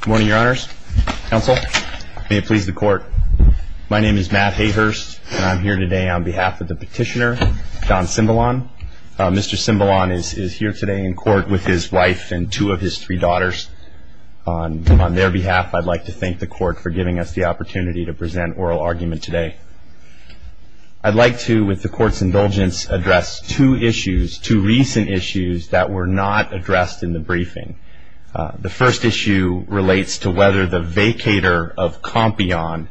Good morning, your honors, counsel. May it please the court. My name is Matt Hayhurst, and I'm here today on behalf of the petitioner, John Simbolon. Mr. Simbolon is here today in court with his wife and two of his three daughters. On their behalf, I'd like to thank the court for giving us the opportunity to present oral argument today. I'd like to, with the court's indulgence, address two issues, two recent issues that were not addressed in the briefing. The first issue relates to whether the vacator of Compion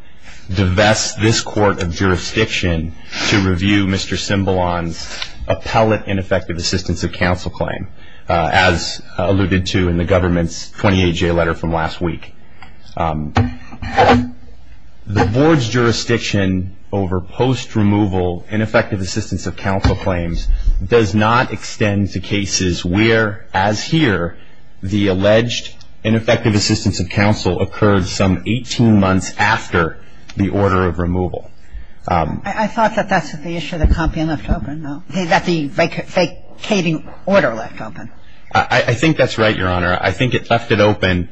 divests this court of jurisdiction to review Mr. Simbolon's appellate ineffective assistance of counsel claim, as alluded to in the government's 28-J letter from last week. The board's jurisdiction over post-removal ineffective assistance of counsel claims does not The alleged ineffective assistance of counsel occurred some 18 months after the order of removal. I thought that that's what the issue of the Compion left open. That the vacating order left open. I think that's right, your honor. I think it left it open,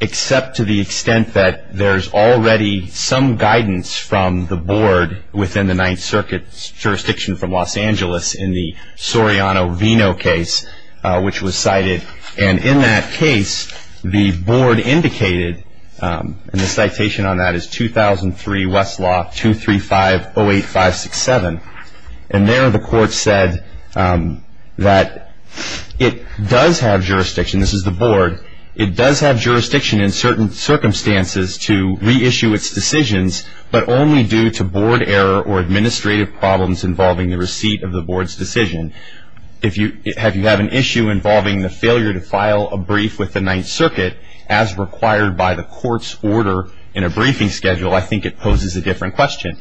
except to the extent that there's already some guidance from the board within the Ninth Circuit's jurisdiction from Los Angeles in the Soriano-Vino case, which was cited. And in that case, the board indicated, and the citation on that is 2003 Westlaw 23508567. And there the court said that it does have jurisdiction, this is the board, it does have jurisdiction in certain circumstances to reissue its decisions, but only due to board error or administrative problems involving the receipt of the board's decision. If you have an issue involving the failure to file a brief with the Ninth Circuit, as required by the court's order in a briefing schedule, I think it poses a different question.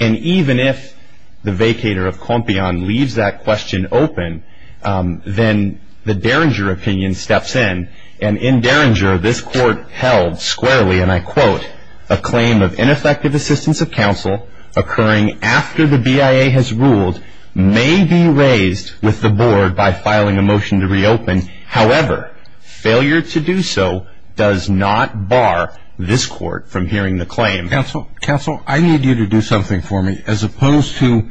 And even if the vacator of Compion leaves that question open, then the Derringer opinion steps in. And in Derringer, this court held squarely, and I quote, a claim of ineffective assistance of counsel occurring after the BIA has ruled may be raised with the board by filing a motion to reopen. However, failure to do so does not bar this court from hearing the claim. Counsel, counsel, I need you to do something for me. As opposed to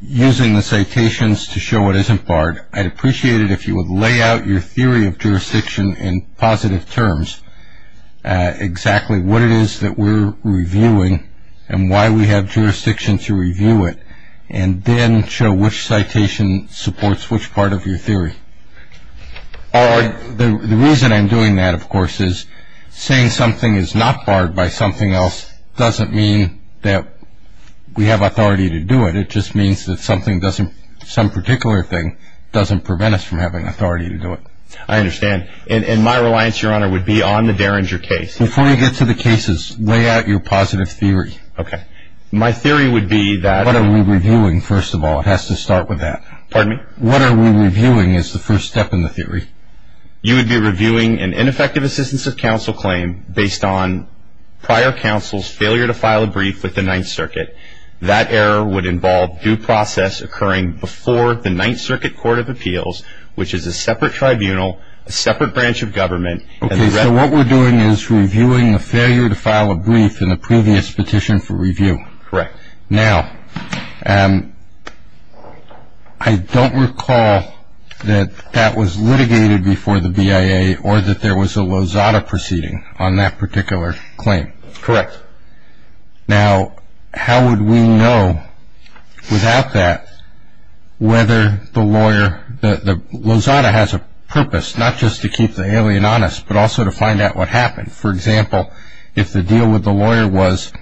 using the citations to show it isn't barred, I'd appreciate it if you would lay out your theory of jurisdiction in positive terms, exactly what it is that we're reviewing and why we have jurisdiction to review it. And then show which citation supports which part of your theory. The reason I'm doing that, of course, is saying something is not barred by something else doesn't mean that we have authority to do it. It just means that something doesn't, some particular thing, doesn't prevent us from having authority to do it. I understand. And my reliance, Your Honor, would be on the Derringer case. Before you get to the cases, lay out your positive theory. OK. My theory would be that- What are we reviewing, first of all? It has to start with that. Pardon me? What are we reviewing is the first step in the theory. You would be reviewing an ineffective assistance of counsel claim based on prior counsel's failure to file a brief with the Ninth Circuit. That error would involve due process occurring before the Ninth Circuit Court of Appeals, which is a separate tribunal, a separate branch of government. OK, so what we're doing is reviewing a failure to file a brief in a previous petition for review. Correct. Now, I don't recall that that was litigated before the BIA or that there was a Lozada proceeding on that particular claim. Correct. Now, how would we know without that whether the lawyer, the Lozada has a purpose, not just to keep the alien honest, but also to find out what happened. For example, if the deal with the lawyer was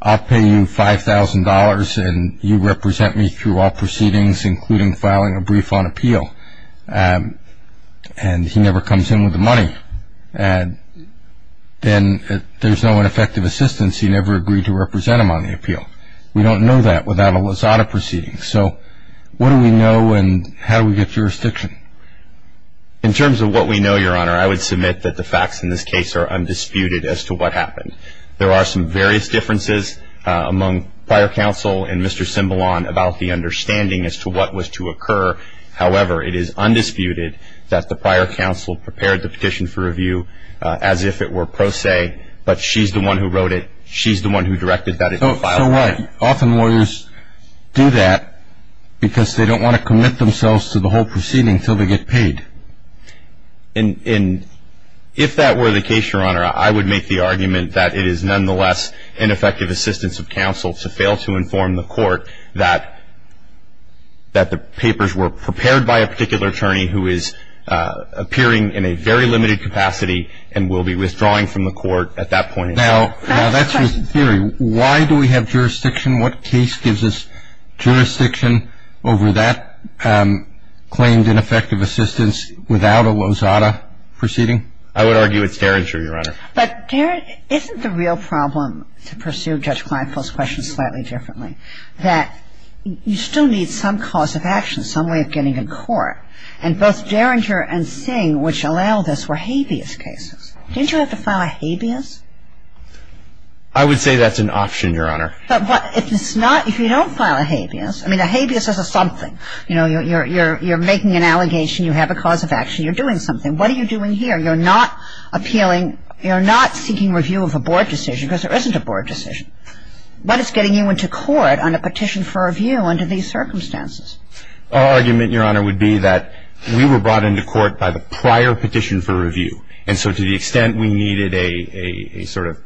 I'll pay you $5,000 and you represent me through all proceedings, including filing a brief on appeal, and he never comes in with the money, then there's no ineffective assistance. He never agreed to represent him on the appeal. We don't know that without a Lozada proceeding. So what do we know and how do we get jurisdiction? In terms of what we know, Your Honor, I would submit that the facts in this case are undisputed as to what happened. There are some various differences among prior counsel and Mr. Cimbalon about the understanding as to what was to occur. However, it is undisputed that the prior counsel prepared the petition for review as if it were pro se, but she's the one who wrote it. She's the one who directed that it be filed. Often lawyers do that because they don't want to commit themselves to the whole proceeding until they get paid. And if that were the case, Your Honor, I would make the argument that it is nonetheless ineffective assistance of counsel to fail to inform the court that the papers were prepared by a particular attorney who is appearing in a very limited capacity and will be withdrawing from the court at that point. Now, that's just a theory. Why do we have jurisdiction? What case gives us jurisdiction over that claimed ineffective assistance without a Lozada proceeding? I would argue it's Derringer, Your Honor. But isn't the real problem, to pursue Judge Kleinfeld's questions slightly differently, that you still need some cause of action, some way of getting in court? And both Derringer and Singh, which allowed us, were habeas cases. Didn't you have to file a habeas? I would say that's an option, Your Honor. But if it's not, if you don't file a habeas, I mean, a habeas is a something. You know, you're making an allegation, you have a cause of action, you're doing something. What are you doing here? You're not appealing, you're not seeking review of a board decision, because there isn't a board decision. What is getting you into court on a petition for review under these circumstances? Our argument, Your Honor, would be that we were brought into court by the prior petition for review. And so to the extent we needed a sort of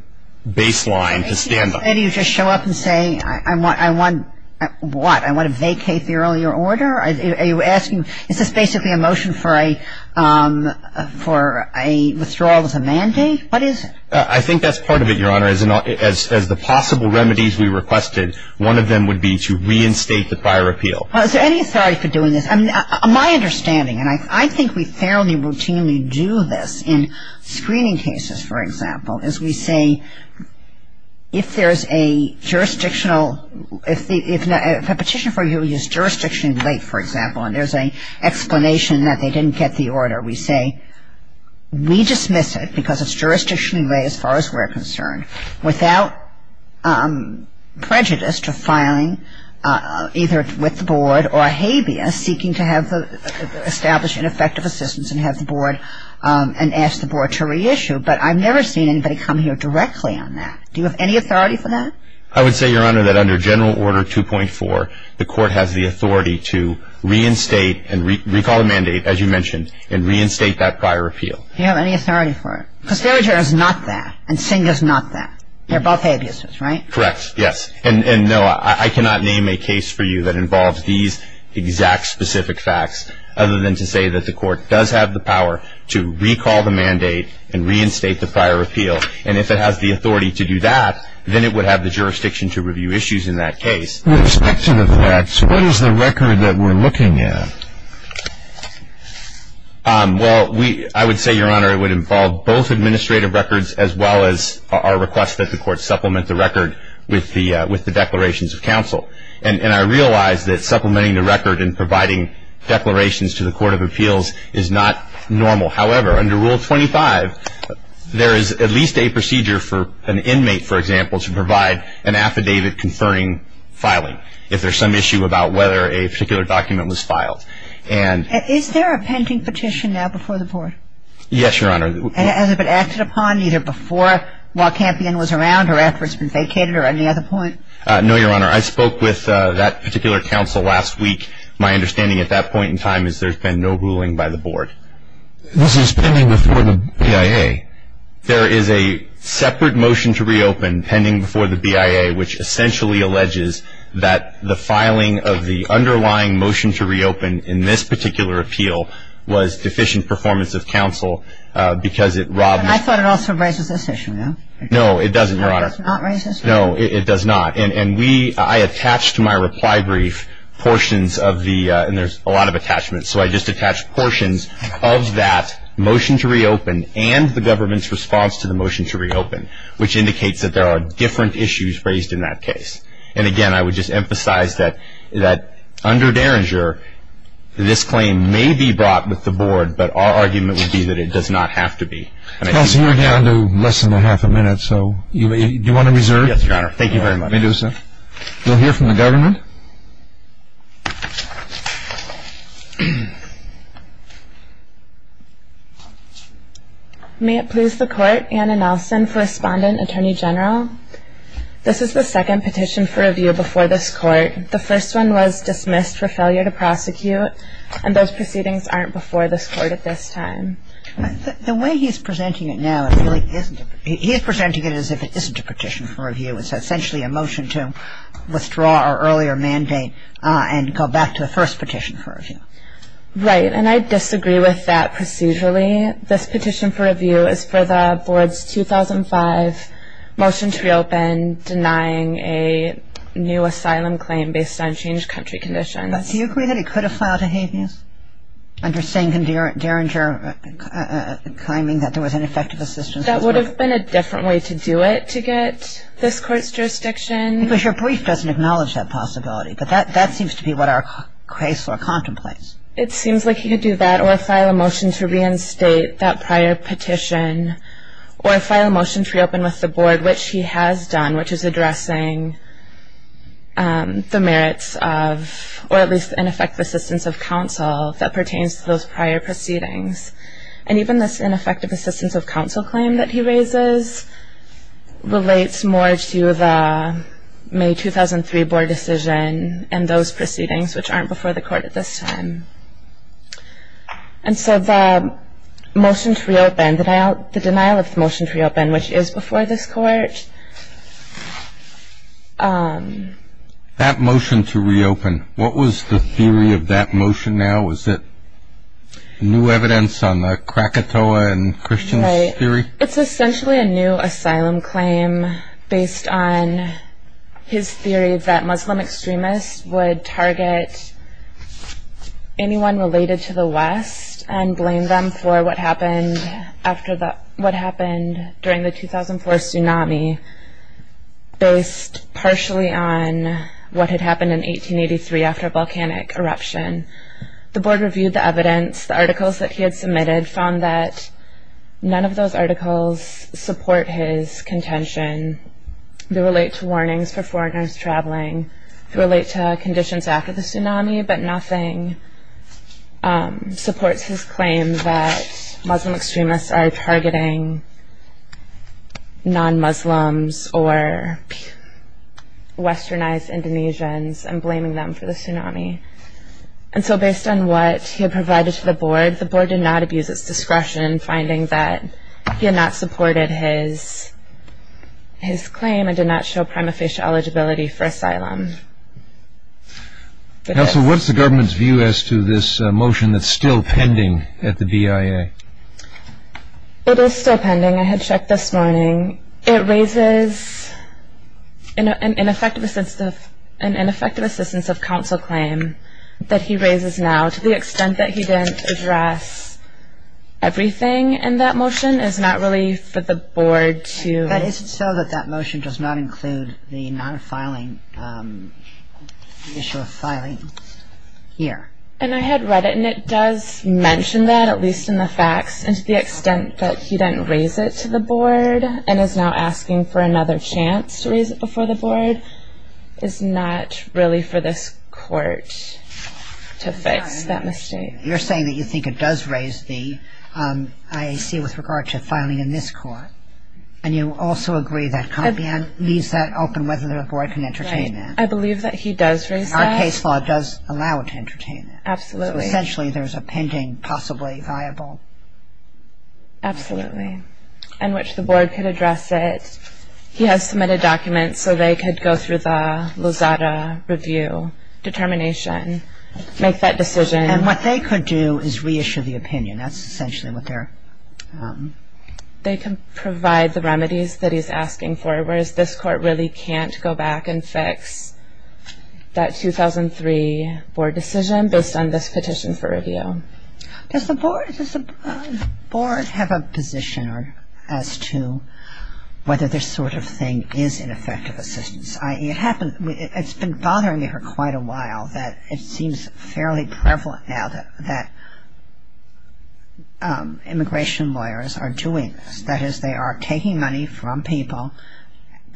baseline to stand on. Maybe you just show up and say, I want, I want, what? I want to vacate the earlier order? Are you asking, is this basically a motion for a, for a withdrawal as a mandate? What is it? I think that's part of it, Your Honor. As the possible remedies we requested, one of them would be to reinstate the prior appeal. Is there any authority for doing this? My understanding, and I think we fairly routinely do this in screening cases, for example, is we say, if there is a jurisdictional, if a petition for review is jurisdictionally late, for example, and there's an explanation that they didn't get the order, we say, we dismiss it because it's jurisdictionally late as far as we're concerned. Without prejudice to filing, either with the board or habeas, seeking to have established ineffective assistance and have the board, and ask the board to reissue. But I've never seen anybody come here directly on that. Do you have any authority for that? I would say, Your Honor, that under General Order 2.4, the court has the authority to reinstate and recall the mandate, as you mentioned, and reinstate that prior appeal. Do you have any authority for it? Because Farriger is not that, and Singh is not that. They're both habeas, right? Correct, yes. And no, I cannot name a case for you that involves these exact specific facts, other than to say that the court does have the power to recall the mandate and reinstate the prior appeal. And if it has the authority to do that, then it would have the jurisdiction to review issues in that case. With respect to the facts, what is the record that we're looking at? Well, I would say, Your Honor, it would involve both administrative records as well as our request that the court supplement the record with the declarations of counsel. And I realize that supplementing the record and providing declarations to the Court of Appeals is not normal. However, under Rule 25, there is at least a procedure for an inmate, for example, to provide an affidavit conferring filing if there's some issue about whether a particular document was filed. And... Is there a pending petition now before the board? Yes, Your Honor. And has it been acted upon either before while Campion was around or after it's been vacated or any other point? No, Your Honor. I spoke with that particular counsel last week. My understanding at that point in time is there's been no ruling by the board. This is pending before the BIA. There is a separate motion to reopen pending before the BIA, which essentially alleges that the filing of the underlying motion to reopen in this particular appeal was deficient performance of counsel because it robbed... I thought it also raises this issue, no? No, it doesn't, Your Honor. No, it does not raise this issue? No, it does not. And we, I attached to my reply brief portions of the, and there's a lot of attachments, so I just attached portions of that motion to reopen and the government's response to the motion to reopen, which indicates that there are different issues raised in that case. And again, I would just emphasize that under Derringer, this claim may be brought with the board, but our argument would be that it does not have to be. Counsel, we're down to less than a half a minute, so do you want to reserve? Yes, Your Honor. Thank you very much. We'll hear from the government. May it please the court, Anna Nelson, Correspondent, Attorney General. This is the second petition for review before this court. The first one was dismissed for failure to prosecute, and those proceedings aren't before this court at this time. The way he's presenting it now, it really isn't... He is presenting it as if it isn't a petition for review. It's a motion to withdraw our earlier motion to reopen. And go back to the first petition for review. Right, and I disagree with that procedurally. This petition for review is for the board's 2005 motion to reopen denying a new asylum claim based on changed country conditions. Do you agree that it could have filed a habeas? Under saying in Derringer, claiming that there was ineffective assistance... That would have been a different way to do it to get this court's jurisdiction. Because your brief doesn't acknowledge that possibility, but that seems to be what our case law contemplates. It seems like he could do that, or file a motion to reinstate that prior petition, or file a motion to reopen with the board, which he has done, which is addressing the merits of, or at least ineffective assistance of counsel that pertains to those prior proceedings. And even this ineffective assistance of counsel claim that he raises relates more to the May 2003 board decision and those proceedings, which aren't before the court at this time. And so the motion to reopen, the denial of the motion to reopen, which is before this court. That motion to reopen, what was the theory of that motion now? Was it new evidence on the Krakatoa and Christians theory? It's essentially a new asylum claim based on his theory that Muslim extremists would target anyone related to the West and blame them for what happened during the 2004 tsunami, based partially on what had happened in 1883 after a volcanic eruption. The board reviewed the evidence. The articles that he had submitted found that none of those articles support his contention. They relate to warnings for foreigners traveling. They relate to conditions after the tsunami. But nothing supports his claim that Muslim extremists are targeting non-Muslims or Westernized Indonesians and blaming them for the tsunami. And so based on what he had provided to the board, the board did not abuse its discretion finding that he had not supported his claim and did not show prima facie eligibility for asylum. Counsel, what's the government's view as to this motion that's still pending at the BIA? It is still pending. I had checked this morning. It raises an ineffective assistance of counsel claim that he raises now. To the extent that he didn't address everything in that motion is not really for the board to. That is so that that motion does not include the non-filing issue of filing here. And I had read it. And it does mention that, at least in the facts. And to the extent that he didn't raise it to the board and is now asking for another chance to raise it before the board is not really for this court to fix that mistake. You're saying that you think it does raise the IAC with regard to filing in this court. And you also agree that Compion leaves that open whether the board can entertain that. I believe that he does raise that. Our case law does allow it to entertain that. Absolutely. So essentially, there's a pending possibly viable. Absolutely. And which the board could address it. He has submitted documents so they make that decision. And what they could do is reissue the opinion. That's essentially what they're. They can provide the remedies that he's asking for. Whereas this court really can't go back and fix that 2003 board decision based on this petition for review. Does the board have a position as to whether this sort of thing is ineffective assistance? It's been bothering me for quite a while that it seems fairly prevalent now that immigration lawyers are doing this. That is, they are taking money from people,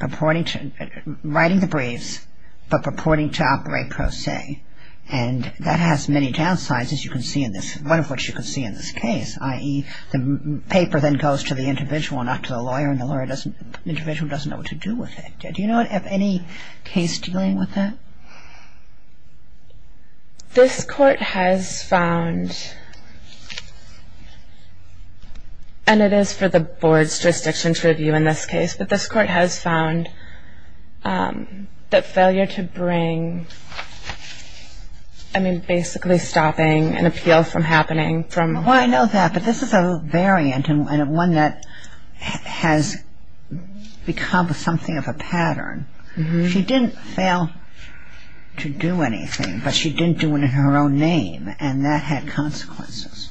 writing the briefs, but purporting to operate pro se. And that has many downsides, as you can see in this. One of which you can see in this case, i.e. the paper then goes to the individual, not to the lawyer. And the individual doesn't know what to do with it. Do you know of any case dealing with that? This court has found, and it is for the board's jurisdiction to review in this case, but this court has found that failure to bring, I mean, basically stopping an appeal from happening from. Well, I know that. But this is a variant and one that has become something of a pattern. She didn't fail to do anything, but she didn't do it in her own name. And that had consequences.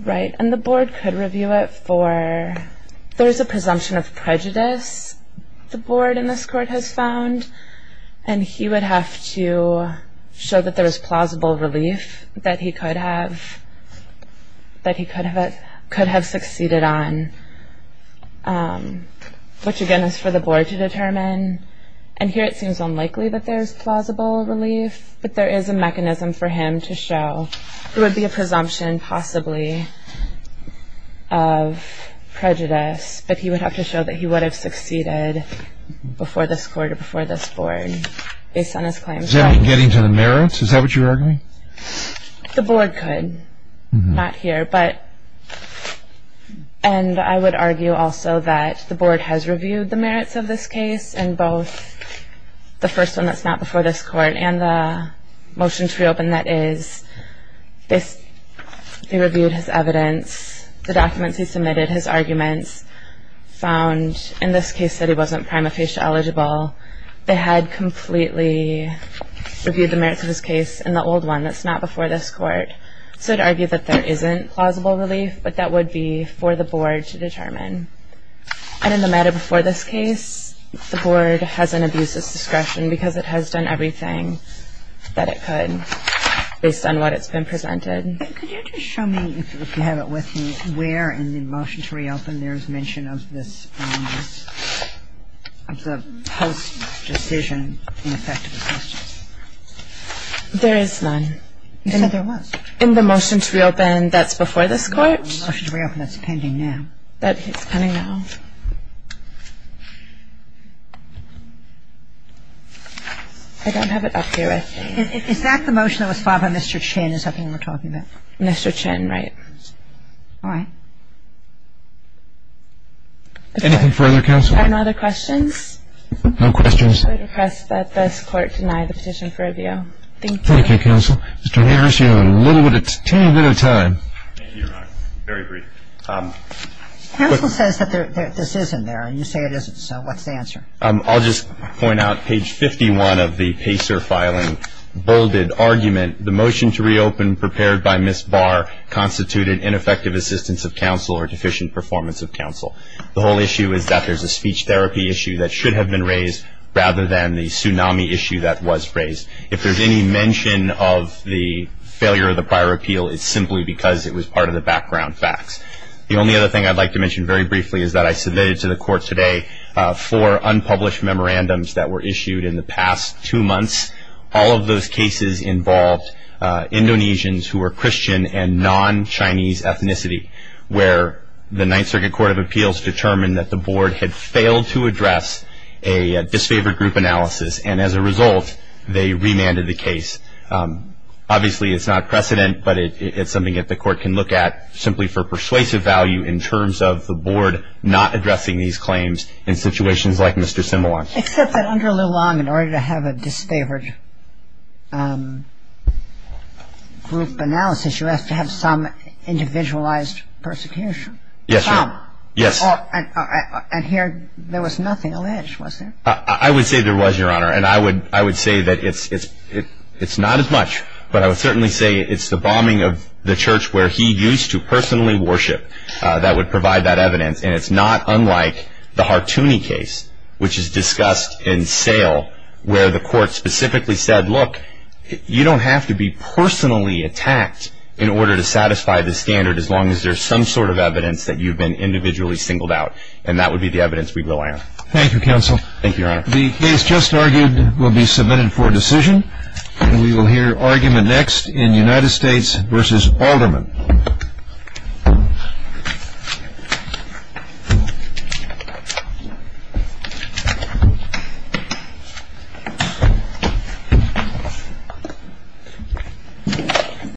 Right. And the board could review it for, there is a presumption of prejudice the board in this court has found. And he would have to show that there is plausible relief that he could have succeeded on, which, again, is for the board to determine. And here, it seems unlikely that there's plausible relief. But there is a mechanism for him to show. It would be a presumption, possibly, of prejudice. But he would have to show that he would have succeeded before this court or before this board based on his claims. Does that mean getting to the merits? Is that what you're arguing? The board could. Not here. And I would argue also that the board has reviewed the merits of this case in both the first one that's not before this court and the motion to reopen that is. They reviewed his evidence, the documents he submitted, his arguments, found in this case that he wasn't prima facie eligible. They had completely reviewed the merits of his case in the old one that's not before this court. So I'd argue that there isn't plausible relief, but that would be for the board to determine. And in the matter before this case, the board has an abuse of discretion because it has done everything that it could based on what it's been presented. Could you just show me, if you have it with me, where in the motion to reopen there is mention of the post-decision ineffectiveness? There is none. You said there was. In the motion to reopen that's before this court? In the motion to reopen that's pending now. That is pending now. I don't have it up here. Is that the motion that was filed by Mr. Chin is something we're talking about? Mr. Chin, right. Anything further, counsel? Are there no other questions? No questions. I request that this court deny the petition for review. Thank you. Thank you, counsel. Mr. Hagers, you have a little bit of time. Thank you, Your Honor. Very brief. Counsel says that this isn't there, and you say it isn't. So what's the answer? I'll just point out page 51 of the Pacer filing, bolded argument. The motion to reopen prepared by Ms. Barr constituted ineffective assistance of counsel or deficient performance of counsel. The whole issue is that there's a speech therapy issue that should have been raised rather than the tsunami issue that was raised. If there's any mention of the failure of the prior appeal, it's simply because it was part of the background facts. The only other thing I'd like to mention very briefly is that I submitted to the court today four unpublished memorandums that were issued in the past two months. All of those cases involved Indonesians who were Christian and non-Chinese ethnicity, where the Ninth Circuit Court of Appeals determined that the board had failed to address a disfavored group analysis. And as a result, they remanded the case. Obviously, it's not precedent, but it's something that the court can look at simply for persuasive value in terms of the board not addressing these claims in situations like Mr. Simulon. Except that under Leung, in order to have a disfavored group analysis, you have to have some individualized persecution. Yes, Your Honor. Yes. And here, there was nothing alleged, was there? I would say there was, Your Honor. And I would say that it's not as much. But I would certainly say it's the bombing of the church where he used to personally worship that would provide that evidence. And it's not unlike the Hartooni case, which is discussed in sale, where the court specifically said, look, you don't have to be personally attacked in order to satisfy the standard as long as there's some sort of evidence that you've been individually singled out. And that would be the evidence we rely on. Thank you, counsel. Thank you, Your Honor. The case just argued will be submitted for decision. And we will hear argument next in United States versus Alderman.